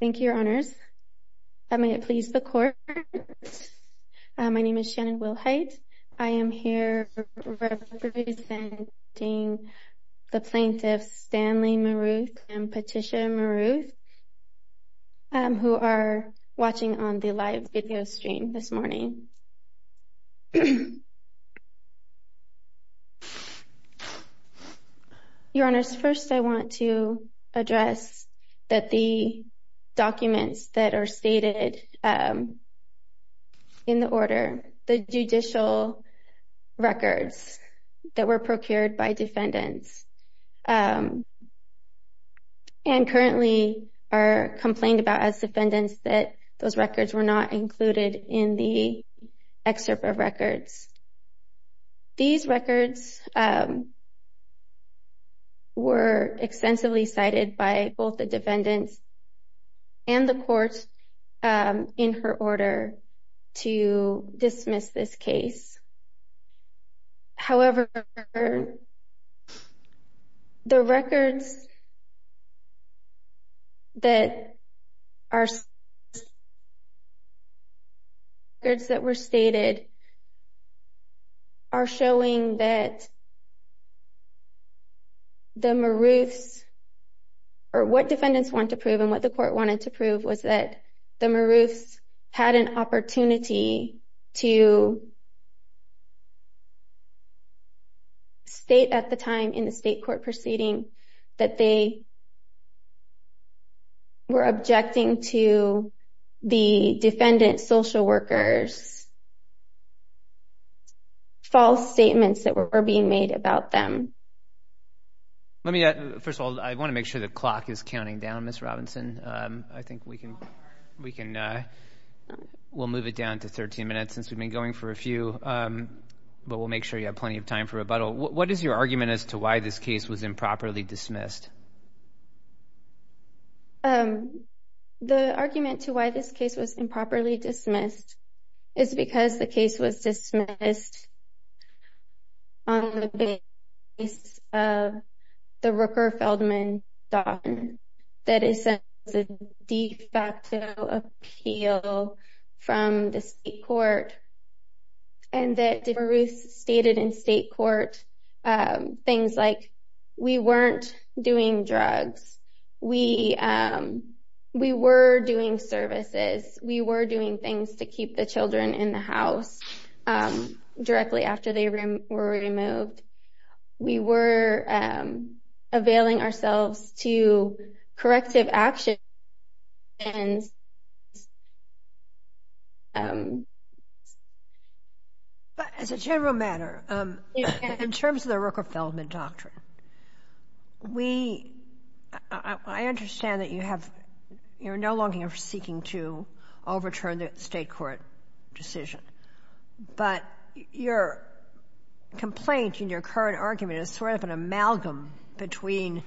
Thank you, Your Honors. May it please the Court, my name is Shannon Wilhite. I am here representing the plaintiffs Stanley Miroth and Patricia Miroth, who are watching on the live video stream this morning. Your Honors, first I want to address that the documents that are stated in the order, the judicial records that were procured by defendants and currently are complained about as defendants that those records were not included in the excerpt of records. These records were extensively cited by both the defendants and the court in her order to dismiss this case. However, the records that were stated are showing that the Miroths, or what an opportunity to state at the time in the state court proceeding that they were objecting to the defendant's social workers' false statements that were being made about them. Let me, first of all, I want to make sure the clock is counting down, Ms. Robinson. I think we can, we'll move it down to 13 minutes since we've been going for a few, but we'll make sure you have plenty of time for rebuttal. What is your argument as to why this case was improperly dismissed? The argument to why this case was improperly dismissed is because the case was dismissed on the basis of the Rooker-Feldman that is a de facto appeal from the state court and that the Miroths stated in state court things like, we weren't doing drugs, we were doing services, we were doing things to keep the children in the house directly after they were removed. We were availing ourselves to corrective action, and, um... But as a general matter, in terms of the Rooker-Feldman doctrine, we, I understand that you have, you're no longer seeking to overturn the state court decision, but your complaint in your current argument is sort of an amalgam between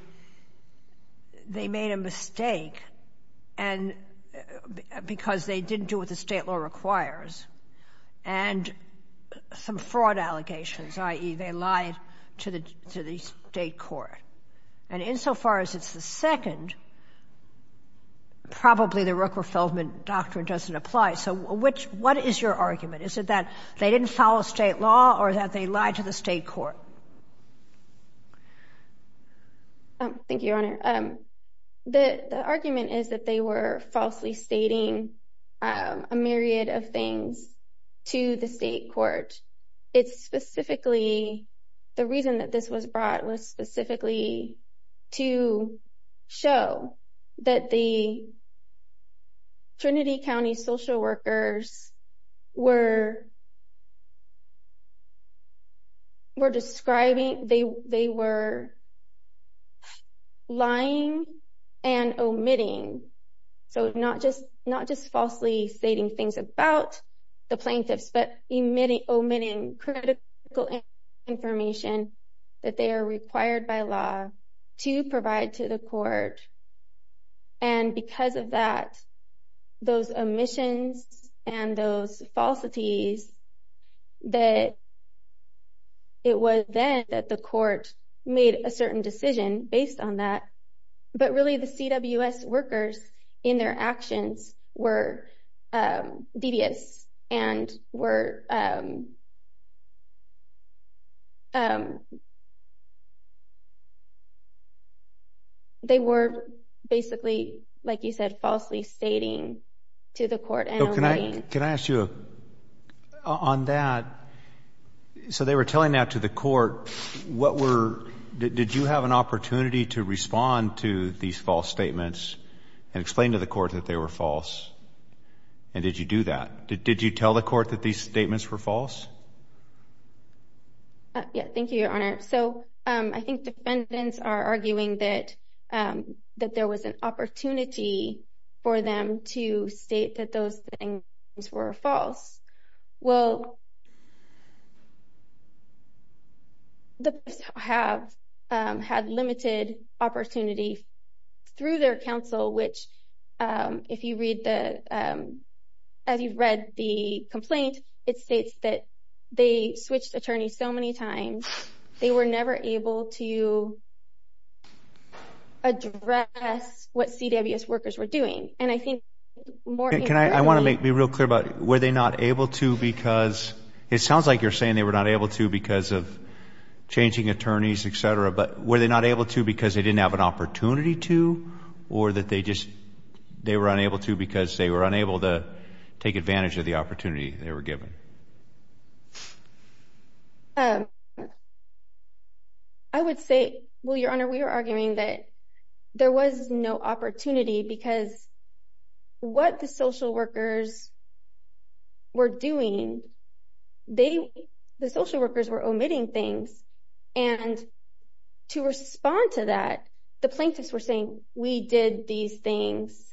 they made a mistake because they didn't do what the state law requires and some fraud allegations, i.e., they lied to the state court. And insofar as it's the second, probably the Rooker-Feldman doctrine doesn't apply. So which, what is your argument? Is it that they didn't follow state law or that they lied to the state court? Thank you, Your Honor. The argument is that they were falsely stating a myriad of things to the state court. It's specifically, the reason that this was brought was specifically to show that the Trinity County social workers were describing, they were lying and omitting. So not just falsely stating things about the plaintiffs, but omitting critical information that they are required by law to provide to the court. And because of that, those omissions and those falsities, that it was then that the court made a certain decision based on that, but really the CWS workers in their actions were devious and were, they were basically, like you said, falsely stating to the court and omitting. Can I ask you, on that, so they were telling that to the court, what were, did you have an opportunity to respond to these false statements and explain to the court that they were false? And did you do that? Did you tell the court that these statements were false? Yeah, thank you, Your Honor. So I think defendants are arguing that there was an opportunity for them to state that those things were false. Well, the plaintiffs have had they switched attorneys so many times, they were never able to address what CWS workers were doing. And I think more... Can I, I want to make me real clear about, were they not able to because, it sounds like you're saying they were not able to because of changing attorneys, etc. But were they not able to because they didn't have an opportunity to, or that they just, they were unable to because they were unable to take advantage of the opportunity they were given? I would say, well, Your Honor, we were arguing that there was no opportunity because what the social workers were doing, they, the social workers were omitting things. And to respond to that, the plaintiffs were saying, we did these things.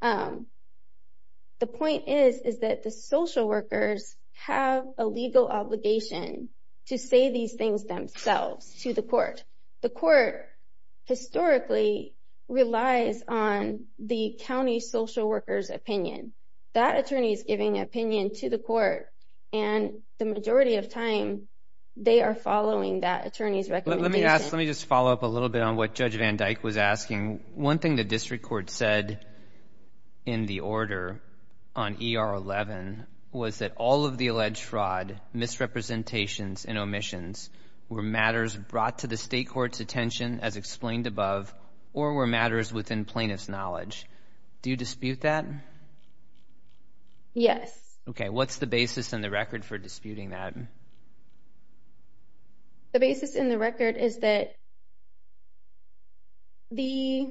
The point is, is that the social workers have a legal obligation to say these things themselves to the court. The court historically relies on the county social workers' opinion. That attorney is giving an opinion to the court, and the majority of time, they are following that attorney's recommendation. Let me ask, let me just follow up a little bit on what Judge Van Dyke was asking. One thing the district court said in the order on ER 11 was that all of the alleged fraud, misrepresentations, and omissions were matters brought to the state court's attention as explained above, or were matters within plaintiff's knowledge. Do you dispute that? Yes. Okay, what's the basis and the record for disputing that? The basis and the record is that the,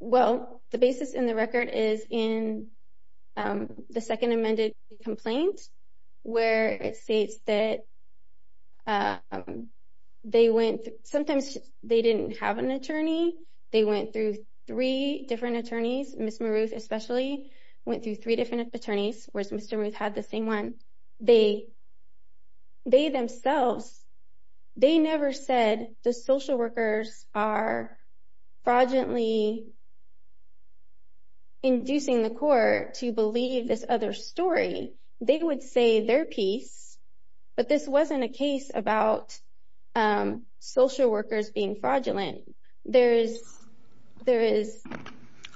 well, the basis and the record is in the second amended complaint where it states that they went, sometimes they didn't have an They, they themselves, they never said the social workers are fraudulently inducing the court to believe this other story. They would say their piece, but this wasn't a case about social workers being fraudulent. There is, there is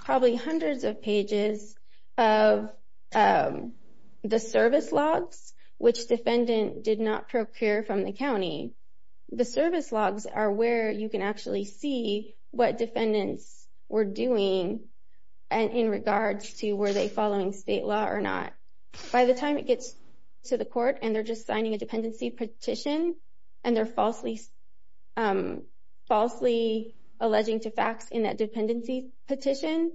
probably hundreds of pages of the service logs, which defendant did not procure from the county. The service logs are where you can actually see what defendants were doing in regards to were they following state law or not. By the time it gets to the court and they're just signing a dependency petition, and they're falsely, falsely alleging to facts in that dependency petition,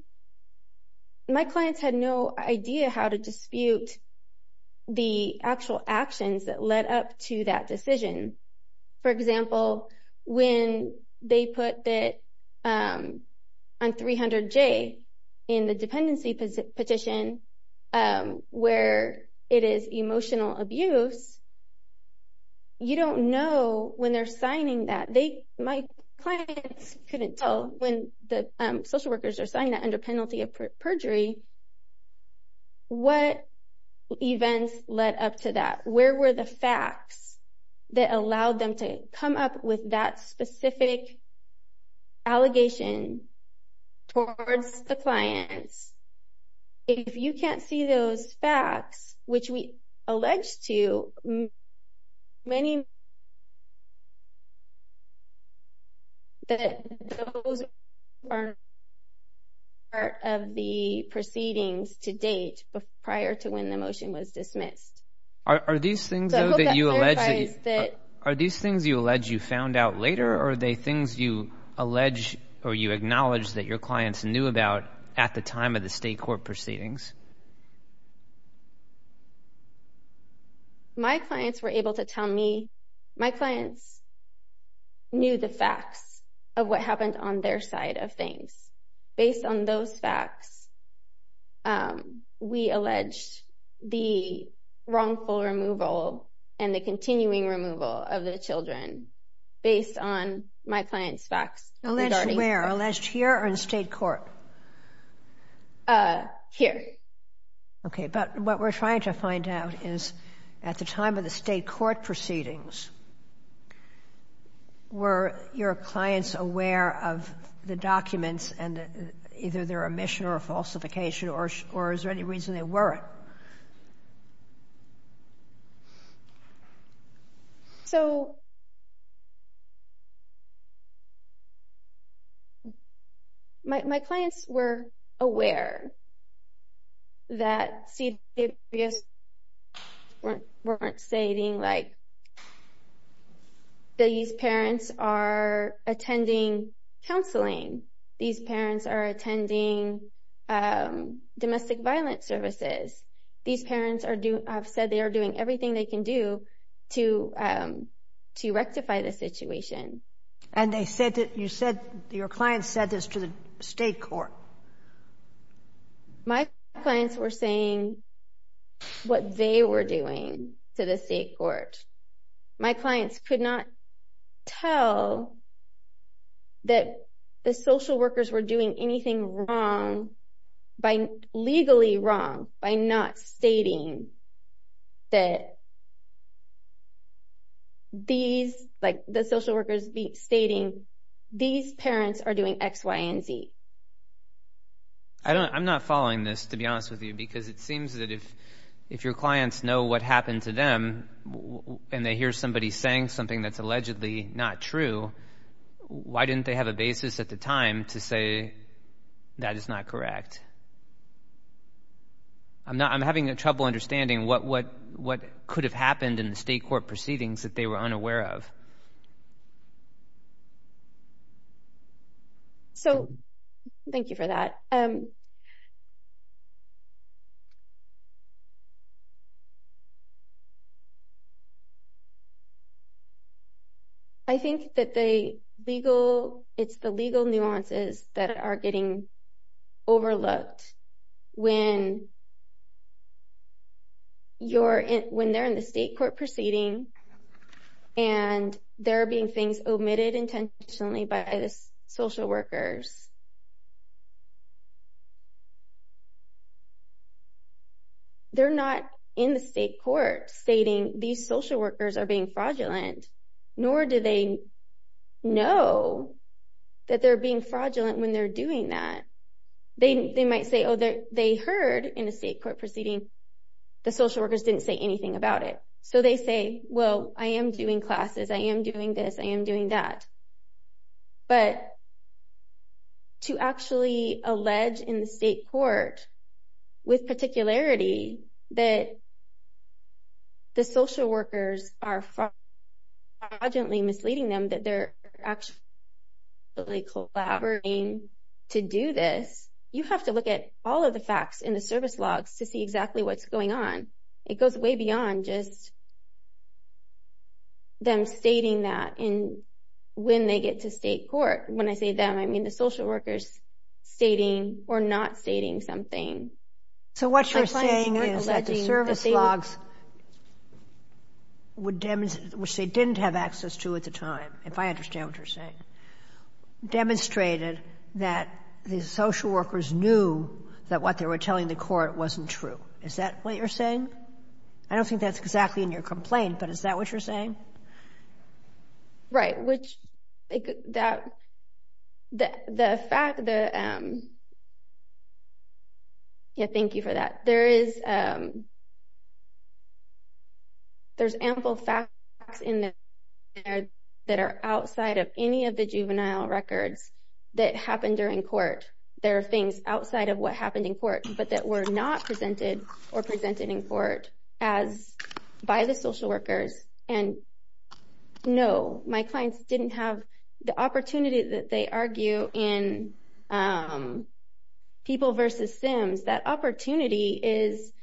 my clients had no idea how to dispute the actual actions that led up to that decision. For example, when they put that on 300J in the dependency petition, where it is emotional abuse, you don't know when they're signing that. They, my clients couldn't tell when the social workers are signing that under penalty of perjury, what events led up to that. Where were the facts that allowed them to come up with that specific allegation towards the clients? If you can't see those facts, which we allege to many that those are part of the proceedings to date prior to when the motion was dismissed. Are these things that you allege, are these things you allege you found out later or are they things you allege or you acknowledge that your clients knew about at the time of the state court proceedings? My clients were able to tell me, my clients knew the facts of what happened on their side of things. Based on those facts, we alleged the wrongful removal and the continuing removal of the children based on my client's facts. Alleged where? Alleged here or in state court? Here. Okay, but what we're trying to find out is at the time of the state court proceedings, were your clients aware of the documents and either their omission or falsification or is there any reason they weren't? So, my clients were aware that CBS weren't stating like, these parents are attending counseling, these parents are attending domestic violence services. These parents have said they are doing everything they can do to rectify the situation. And your clients said this to the state court? My clients were saying what they were doing to the state court. My clients could not tell that the social workers were doing anything wrong, legally wrong, by not stating that these, like the social workers stating these parents are doing X, Y, and Z. I'm not following this, to be honest with you, because it seems that if your clients know what happened to them and they hear somebody saying something that's allegedly not true, why didn't they have a basis at the time to say that is not correct? I'm having trouble understanding what could have happened in the state court proceedings that they were unaware of. So, thank you for that. I think that the legal, it's the legal nuances that are getting overlooked when you're, when they're in the state court proceeding and there are being things omitted intentionally by the social workers. They're not in the state court stating these social workers are being fraudulent, nor do they know that they're being fraudulent when they're doing that. They might say, oh, they heard in the state court proceeding the social workers didn't say anything about it. So, they say, well, I am doing classes, I am doing this, I am doing that. But to actually allege in the state court with particularity that the social workers are fraudulently misleading them that they're actually collaborating to do this, you have to look at all of the facts in the service logs to see exactly what's going on. It goes way beyond just them stating that when they get to state court. When I say them, I mean the social workers stating or not stating something. So, what you're saying is that the service logs, which they didn't have access to at the time, if I understand what you're saying, demonstrated that the social workers knew that what they were telling the court wasn't true. Is that what you're saying? I don't think that's exactly in your complaint, but is that what you're saying? Right. Yeah, thank you for that. There's ample facts in there that are outside of any of the juvenile records that happened during court. There are things outside of what happened in court, but that were not presented or presented in court by the social workers. No, my clients didn't have the opportunity that they argue in People v. Sims. That opportunity is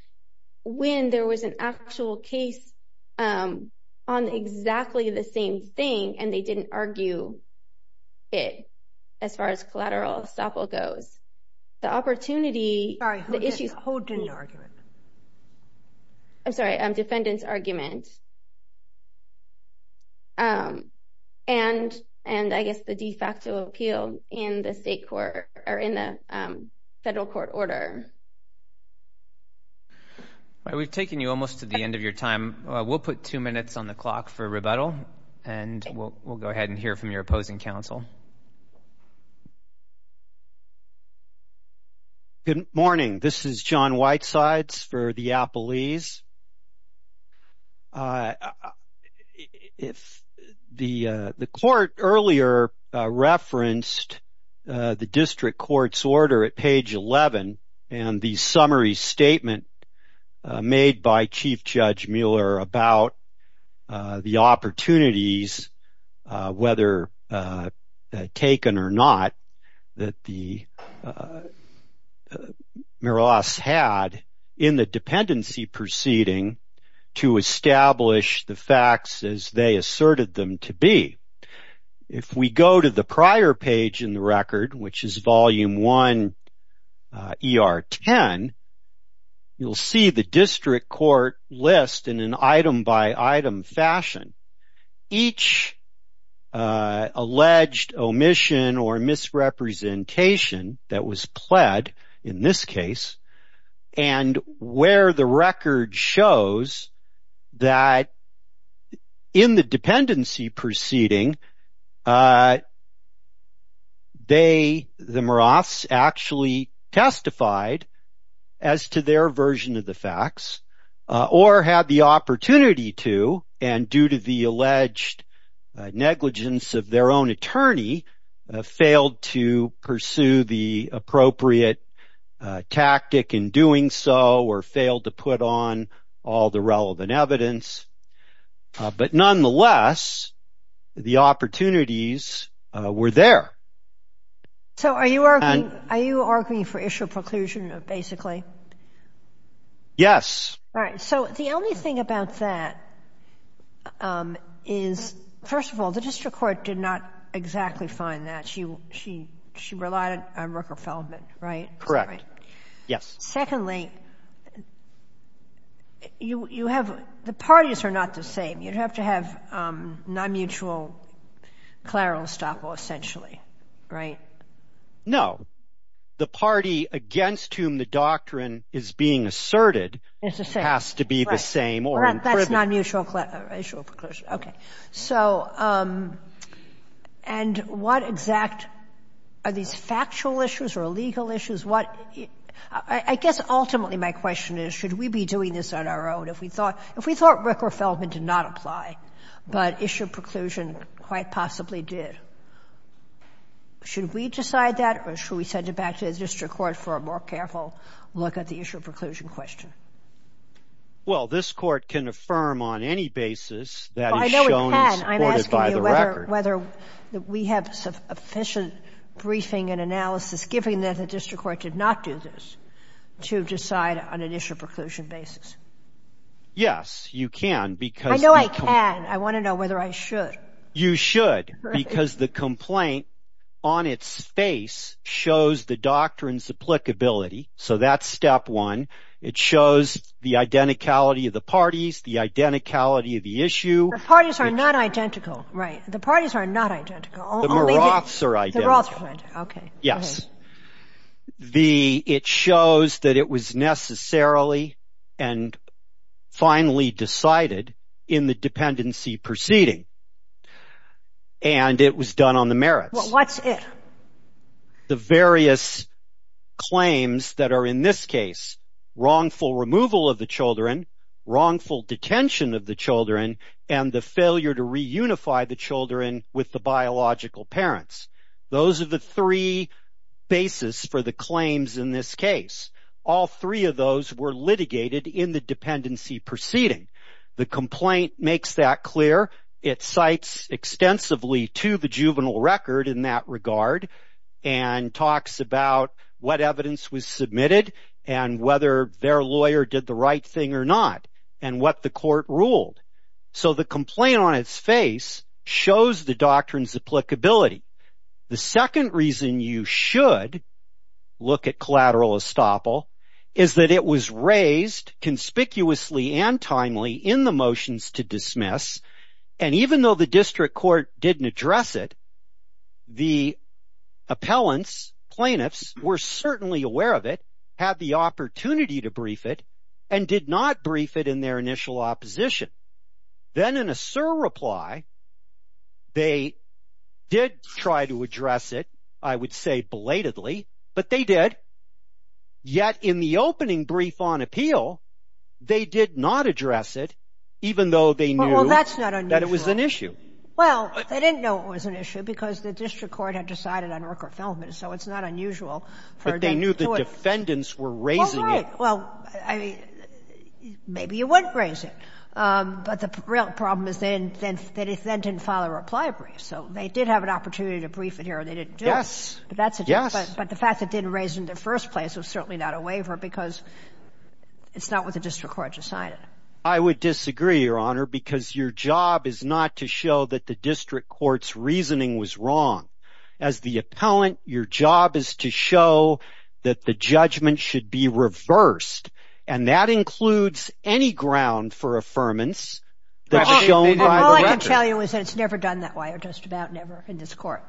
when there was an actual case on exactly the same thing, and they didn't argue it, as far as collateral estoppel goes. Sorry, who didn't argue it? I'm sorry, defendant's argument, and I guess the de facto appeal in the federal court order. We've taken you almost to the end of your time. We'll put two minutes on the clock for rebuttal, and we'll go ahead and hear from your opposing counsel. Good morning. This is John Whitesides for the Appellees. The court earlier referenced the district court's order at page 11, and the summary statement made by Chief Judge Mueller about the opportunities, whether taken or not, that Miroas had in the dependency proceedings. If we go to the prior page in the record, which is Volume 1, ER 10, you'll see the district court list in an item-by-item fashion. It lists each alleged omission or misrepresentation that was pled in this case, and where the record shows that in the dependency proceeding, the Miroas actually testified as to their version of the facts, or had the opportunity to, and due to the alleged negligence of their own attorney, failed to pursue the appropriate tactic in doing so, or failed to put on all the relevant evidence. But nonetheless, the opportunities were there. So are you arguing for issue of preclusion, basically? Yes. All right. So the only thing about that is, first of all, the district court did not exactly find that. She relied on Rooker Feldman, right? Correct. Yes. Secondly, you have — the parties are not the same. You'd have to have non-mutual clerical estoppel, essentially, right? No. The party against whom the doctrine is being asserted has to be the same or in privilege. That's non-mutual issue of preclusion. Okay. So — and what exact — are these factual issues or legal issues? What — I guess ultimately my question is, should we be doing this on our own? If we thought Ricker Feldman did not apply, but issue of preclusion quite possibly did, should we decide that, or should we send it back to the district court for a more careful look at the issue of preclusion question? Well, this Court can affirm on any basis that it's shown as supported by the record. I'm asking you whether we have sufficient briefing and analysis, given that the district court did not do this, to decide on an issue of preclusion basis. Yes, you can, because — I know I can. I want to know whether I should. You should, because the complaint on its face shows the doctrine's applicability. So that's step one. It shows the identicality of the parties, the identicality of the issue. The parties are not identical. The parties are not identical. The Moroths are identical. The Moroths are identical. Yes. It shows that it was necessarily and finally decided in the dependency proceeding, and it was done on the merits. What's it? The various claims that are in this case, wrongful removal of the children, wrongful detention of the children, and the failure to reunify the children with the biological parents. Those are the three basis for the claims in this case. All three of those were litigated in the dependency proceeding. The complaint makes that clear. It cites extensively to the juvenile record in that regard, and talks about what evidence was submitted, and whether their lawyer did the right thing or not, and what the court ruled. So the complaint on its face shows the doctrine's applicability. The second reason you should look at collateral estoppel is that it was raised conspicuously and timely in the motions to dismiss, and even though the district court didn't address it, the appellants, plaintiffs, were certainly aware of it, had the opportunity to brief it, and did not brief it in their initial opposition. Then in a surreply, they did try to address it, I would say belatedly, but they did. Yet in the opening brief on appeal, they did not address it, even though they knew that it was an issue. Well, they didn't know it was an issue because the district court had decided on Rooker-Feldman, so it's not unusual for them to do it. But they knew the defendants were raising it. Well, maybe you wouldn't raise it. But the real problem is they didn't file a reply brief, so they did have an opportunity to brief it here, and they didn't do it. But the fact that they didn't raise it in the first place was certainly not a waiver because it's not what the district court decided. I would disagree, Your Honor, because your job is not to show that the district court's reasoning was wrong. As the appellant, your job is to show that the judgment should be reversed, and that includes any ground for affirmance that's shown by the record. All I can tell you is that it's never done that way or just about never in this Court,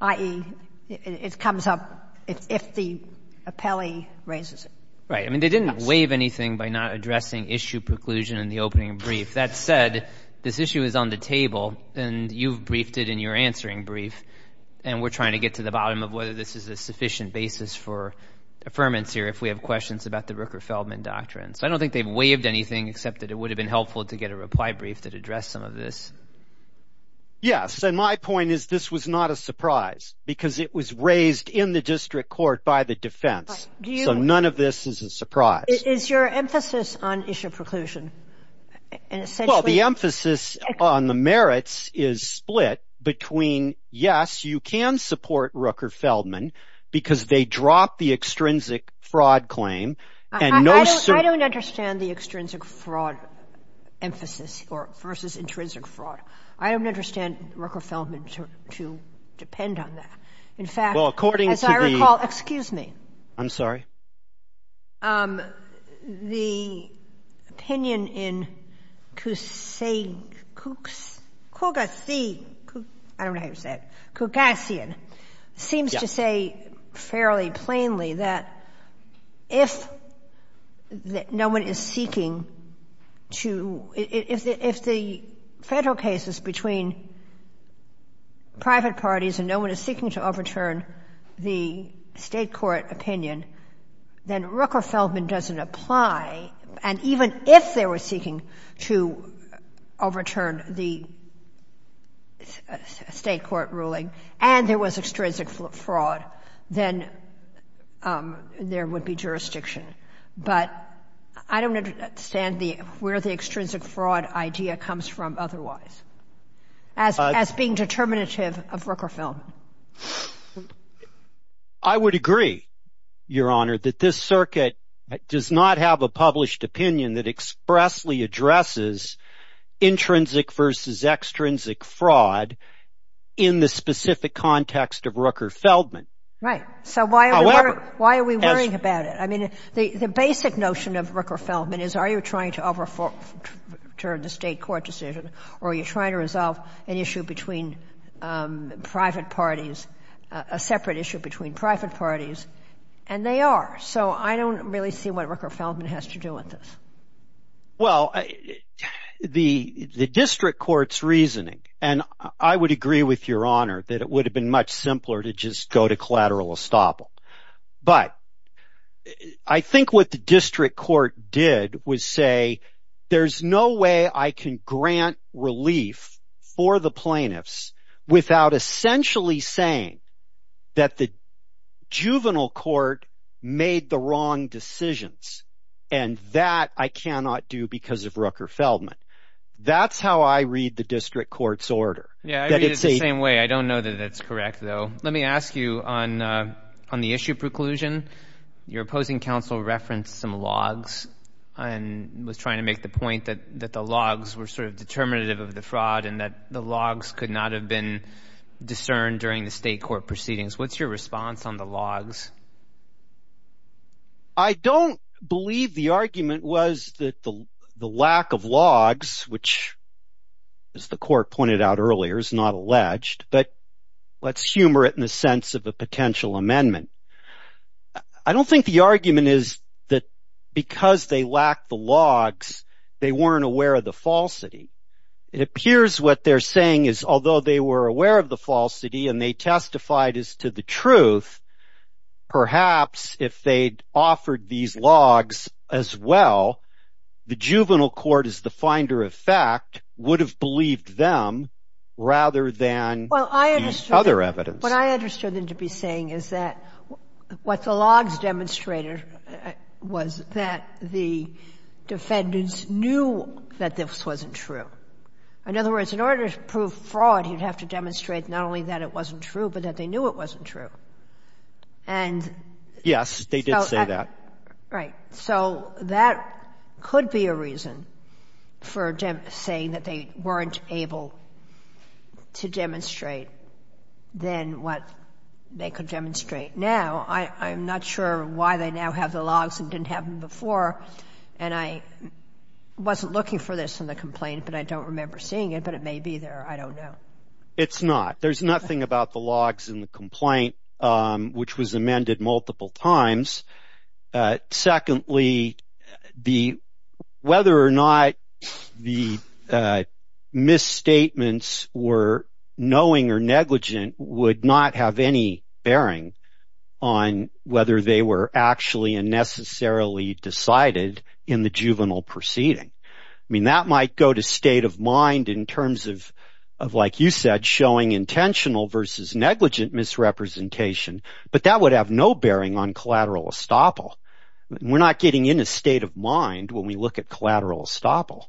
i.e., it comes up if the appellee raises it. Right. I mean, they didn't waive anything by not addressing issue preclusion in the opening brief. That said, this issue is on the table, and you've briefed it in your answering brief, and we're trying to get to the bottom of whether this is a sufficient basis for affirmance here if we have questions about the Rooker-Feldman doctrine. So I don't think they've waived anything except that it would have been helpful to get a reply brief that addressed some of this. Yes, and my point is this was not a surprise because it was raised in the district court by the defense. So none of this is a surprise. Is your emphasis on issue preclusion essentially... Well, the emphasis on the merits is split between, yes, you can support Rooker-Feldman because they dropped the extrinsic fraud claim and no... I don't understand the extrinsic fraud emphasis or versus intrinsic fraud. I don't understand Rooker-Feldman to depend on that. In fact, as I recall... Excuse me. I'm sorry. The opinion in Cougacyan seems to say fairly plainly that if no one is seeking to... If the federal case is between private parties and no one is seeking to overturn the state court opinion, then Rooker-Feldman doesn't apply. And even if they were seeking to overturn the state court ruling and there was extrinsic fraud, then there would be jurisdiction. But I don't understand where the extrinsic fraud idea comes from otherwise as being determinative of Rooker-Feldman. I would agree, Your Honor, that this circuit does not have a published opinion that expressly addresses intrinsic versus extrinsic fraud in the specific context of Rooker-Feldman. Right. However... So why are we worrying about it? I mean, the basic notion of Rooker-Feldman is are you trying to overturn the state court decision or are you trying to resolve an issue between private parties, a separate issue between private parties, and they are. So I don't really see what Rooker-Feldman has to do with this. Well, the district court's reasoning, and I would agree with Your Honor that it would have been much simpler to just go to collateral estoppel. But I think what the district court did was say there's no way I can grant relief for the plaintiffs without essentially saying that the juvenile court made the wrong decisions and that I cannot do because of Rooker-Feldman. That's how I read the district court's order. Yeah, I read it the same way. I don't know that it's correct, though. Let me ask you on the issue preclusion. Your opposing counsel referenced some logs and was trying to make the point that the logs were sort of determinative of the fraud and that the logs could not have been discerned during the state court proceedings. What's your response on the logs? I don't believe the argument was that the lack of logs, which, as the court pointed out earlier, is not alleged, but let's humor it in the sense of a potential amendment. I don't think the argument is that because they lack the logs, they weren't aware of the falsity. It appears what they're saying is although they were aware of the falsity and they testified as to the truth, perhaps if they'd offered these logs as well, the juvenile court as the finder of fact would have believed them rather than the other evidence. What I understood them to be saying is that what the logs demonstrated was that the defendants knew that this wasn't true. In other words, in order to prove fraud, you'd have to demonstrate not only that it wasn't true, but that they knew it wasn't true. Yes, they did say that. Right. So that could be a reason for saying that they weren't able to demonstrate than what they could demonstrate now. I'm not sure why they now have the logs and didn't have them before, and I wasn't looking for this in the complaint, but I don't remember seeing it, but it may be there. I don't know. It's not. There's nothing about the logs in the complaint, which was amended multiple times. Secondly, whether or not the misstatements were knowing or negligent would not have any bearing on whether they were actually and necessarily decided in the juvenile proceeding. I mean, that might go to state of mind in terms of, like you said, showing intentional versus negligent misrepresentation, but that would have no bearing on collateral estoppel. We're not getting in a state of mind when we look at collateral estoppel.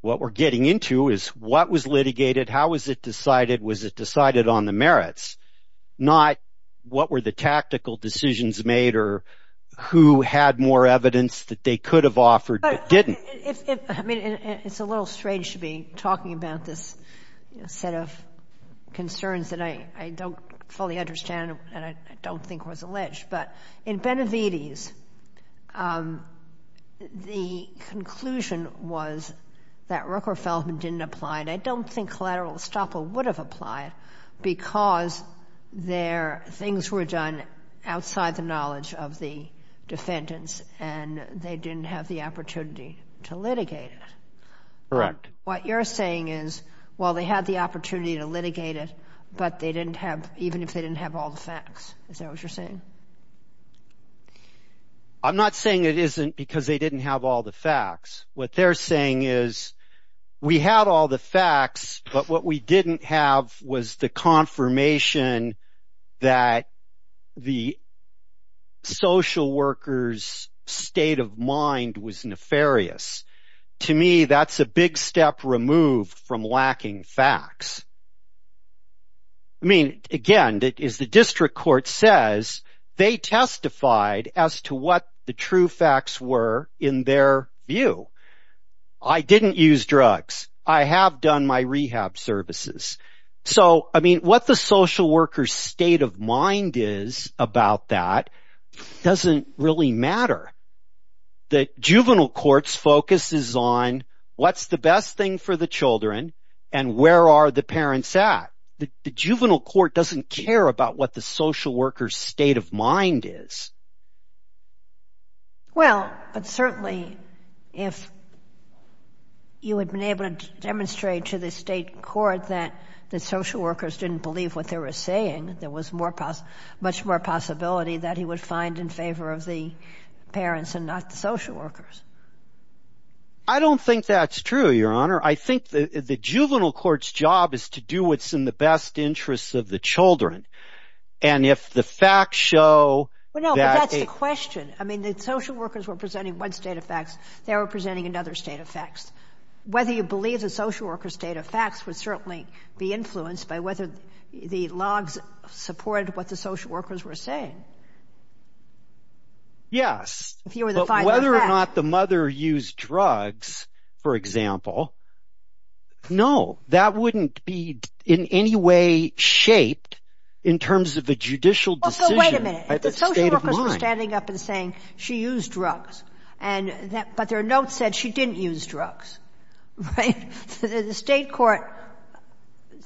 What we're getting into is what was litigated, how was it decided, was it decided on the merits, not what were the tactical decisions made or who had more evidence that they could have offered but didn't. I mean, it's a little strange to be talking about this set of concerns that I don't fully understand and I don't think was alleged. But in Benevides, the conclusion was that Rooker-Feldman didn't apply and I don't think collateral estoppel would have applied because things were done outside the knowledge of the defendants and they didn't have the opportunity to litigate it. Correct. What you're saying is, well, they had the opportunity to litigate it, but they didn't have, even if they didn't have all the facts. Is that what you're saying? I'm not saying it isn't because they didn't have all the facts. What they're saying is we had all the facts, but what we didn't have was the confirmation that the social worker's state of mind was nefarious. To me, that's a big step removed from lacking facts. I mean, again, as the district court says, they testified as to what the true facts were in their view. I didn't use drugs. I have done my rehab services. So, I mean, what the social worker's state of mind is about that doesn't really matter. The juvenile court's focus is on what's the best thing for the children and where are the parents at. The juvenile court doesn't care about what the social worker's state of mind is. Well, but certainly if you had been able to demonstrate to the state court that the social workers didn't believe what they were saying, there was much more possibility that he would find in favor of the parents and not the social workers. I don't think that's true, Your Honor. I think the juvenile court's job is to do what's in the best interest of the children. And if the facts show that they... Well, no, but that's the question. I mean, the social workers were presenting one state of facts. They were presenting another state of facts. Whether you believe the social worker's state of facts would certainly be influenced by whether the logs supported what the social workers were saying. Yes, but whether or not the mother used drugs, for example, no, that wouldn't be in any way shaped in terms of a judicial decision at the state of mind. If the social workers were standing up and saying she used drugs but their notes said she didn't use drugs, right, then the state court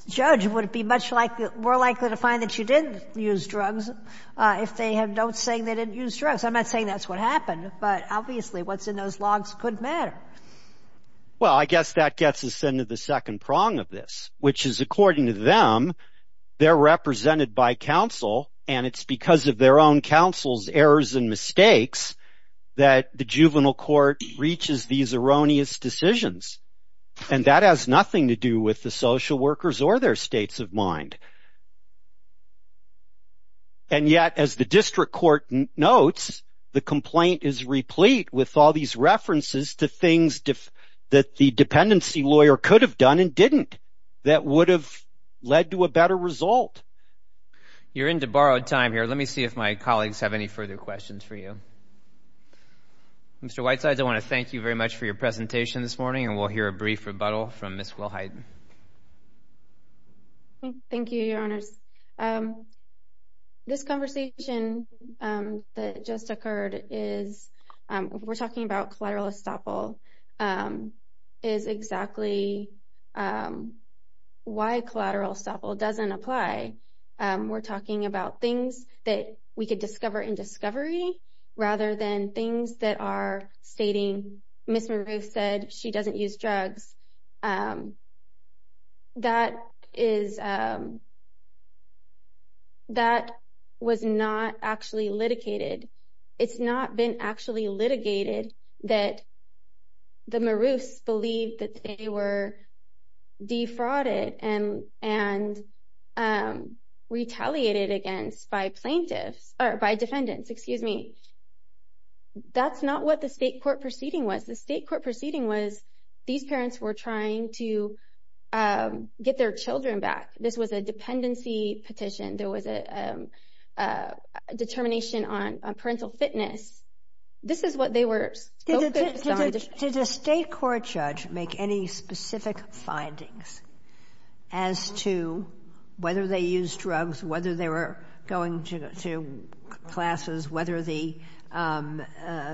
judge would be much more likely to find that she did use drugs if they have notes saying they didn't use drugs. I'm not saying that's what happened, but obviously what's in those logs couldn't matter. Well, I guess that gets us into the second prong of this, which is according to them, they're represented by counsel and it's because of their own counsel's errors and mistakes that the juvenile court reaches these erroneous decisions. And that has nothing to do with the social workers or their states of mind. And yet, as the district court notes, the complaint is replete with all these references to things that the dependency lawyer could have done and didn't that would have led to a better result. You're into borrowed time here. Let me see if my colleagues have any further questions for you. Mr. Whitesides, I want to thank you very much for your presentation this morning and we'll hear a brief rebuttal from Ms. Wilhite. Thank you, Your Honors. This conversation that just occurred is, we're talking about collateral estoppel, is exactly why collateral estoppel doesn't apply. We're talking about things that we could discover in discovery rather than things that are stating Ms. Maroos said she doesn't use drugs. That was not actually litigated. It's not been actually litigated that the Maroos believed that they were defrauded and retaliated against by plaintiffs or by defendants, excuse me. That's not what the state court proceeding was. The state court proceeding was, these parents were trying to get their children back. This was a dependency petition. There was a determination on parental fitness. This is what they were focused on. Did the state court judge make any specific findings as to whether they used drugs, whether they were going to classes, whether the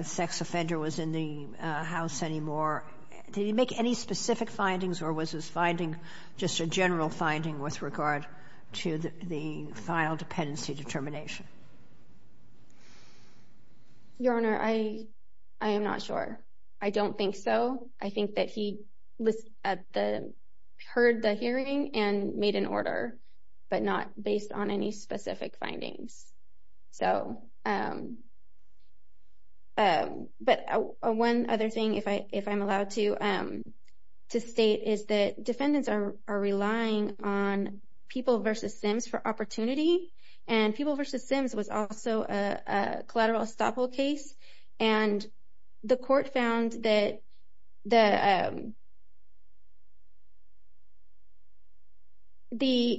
sex offender was in the house anymore? Did he make any specific findings or was his finding just a general finding with regard to the final dependency determination? Your Honor, I am not sure. I don't think so. I think that he heard the hearing and made an order but not based on any specific findings. One other thing, if I'm allowed to state, is that defendants are relying on People v. Sims for opportunity. People v. Sims was also a collateral estoppel case. The court found that the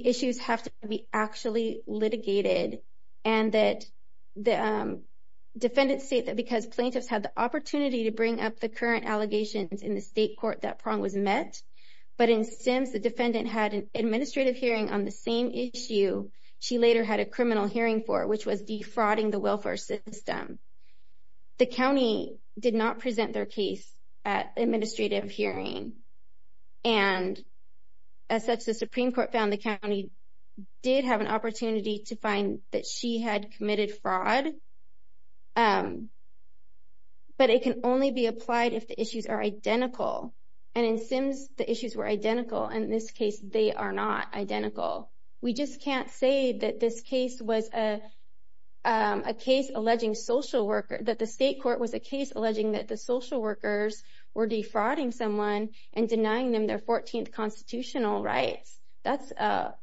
issues have to be actually litigated. Defendants state that because plaintiffs had the opportunity to bring up the current allegations in the state court that Prong was met, but in Sims the defendant had an administrative hearing on the same issue she later had a criminal hearing for, which was defrauding the welfare system. The county did not present their case at administrative hearing. As such, the Supreme Court found the county did have an opportunity to find that she had committed fraud, but it can only be applied if the issues are identical. In Sims, the issues were identical. In this case, they are not identical. We just can't say that this case was a case alleging social worker, that the state court was a case alleging that the social workers were defrauding someone and denying them their 14th constitutional rights. The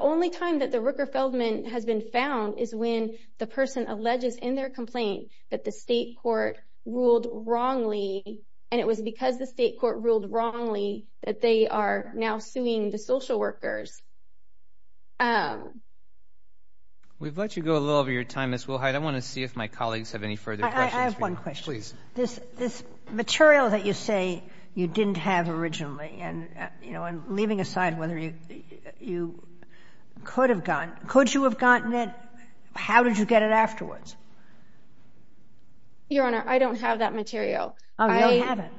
only time that the Rooker-Feldman has been found is when the person alleges in their complaint that the state court ruled wrongly, and it was because the state court ruled wrongly that they are now suing the social workers. We've let you go a little over your time, Ms. Wilhite. I want to see if my colleagues have any further questions. I have one question. Please. This material that you say you didn't have originally, and leaving aside whether you could have gotten it, could you have gotten it? How did you get it afterwards? Your Honor, I don't have that material. Oh, you don't have it.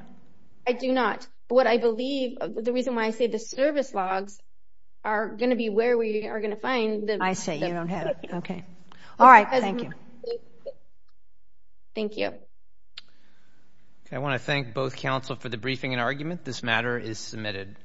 I do not. What I believe, the reason why I say the service logs are going to be where we are going to find them. I say you don't have it. All right. Thank you. Thank you. I want to thank both counsel for the briefing and argument. This matter is submitted.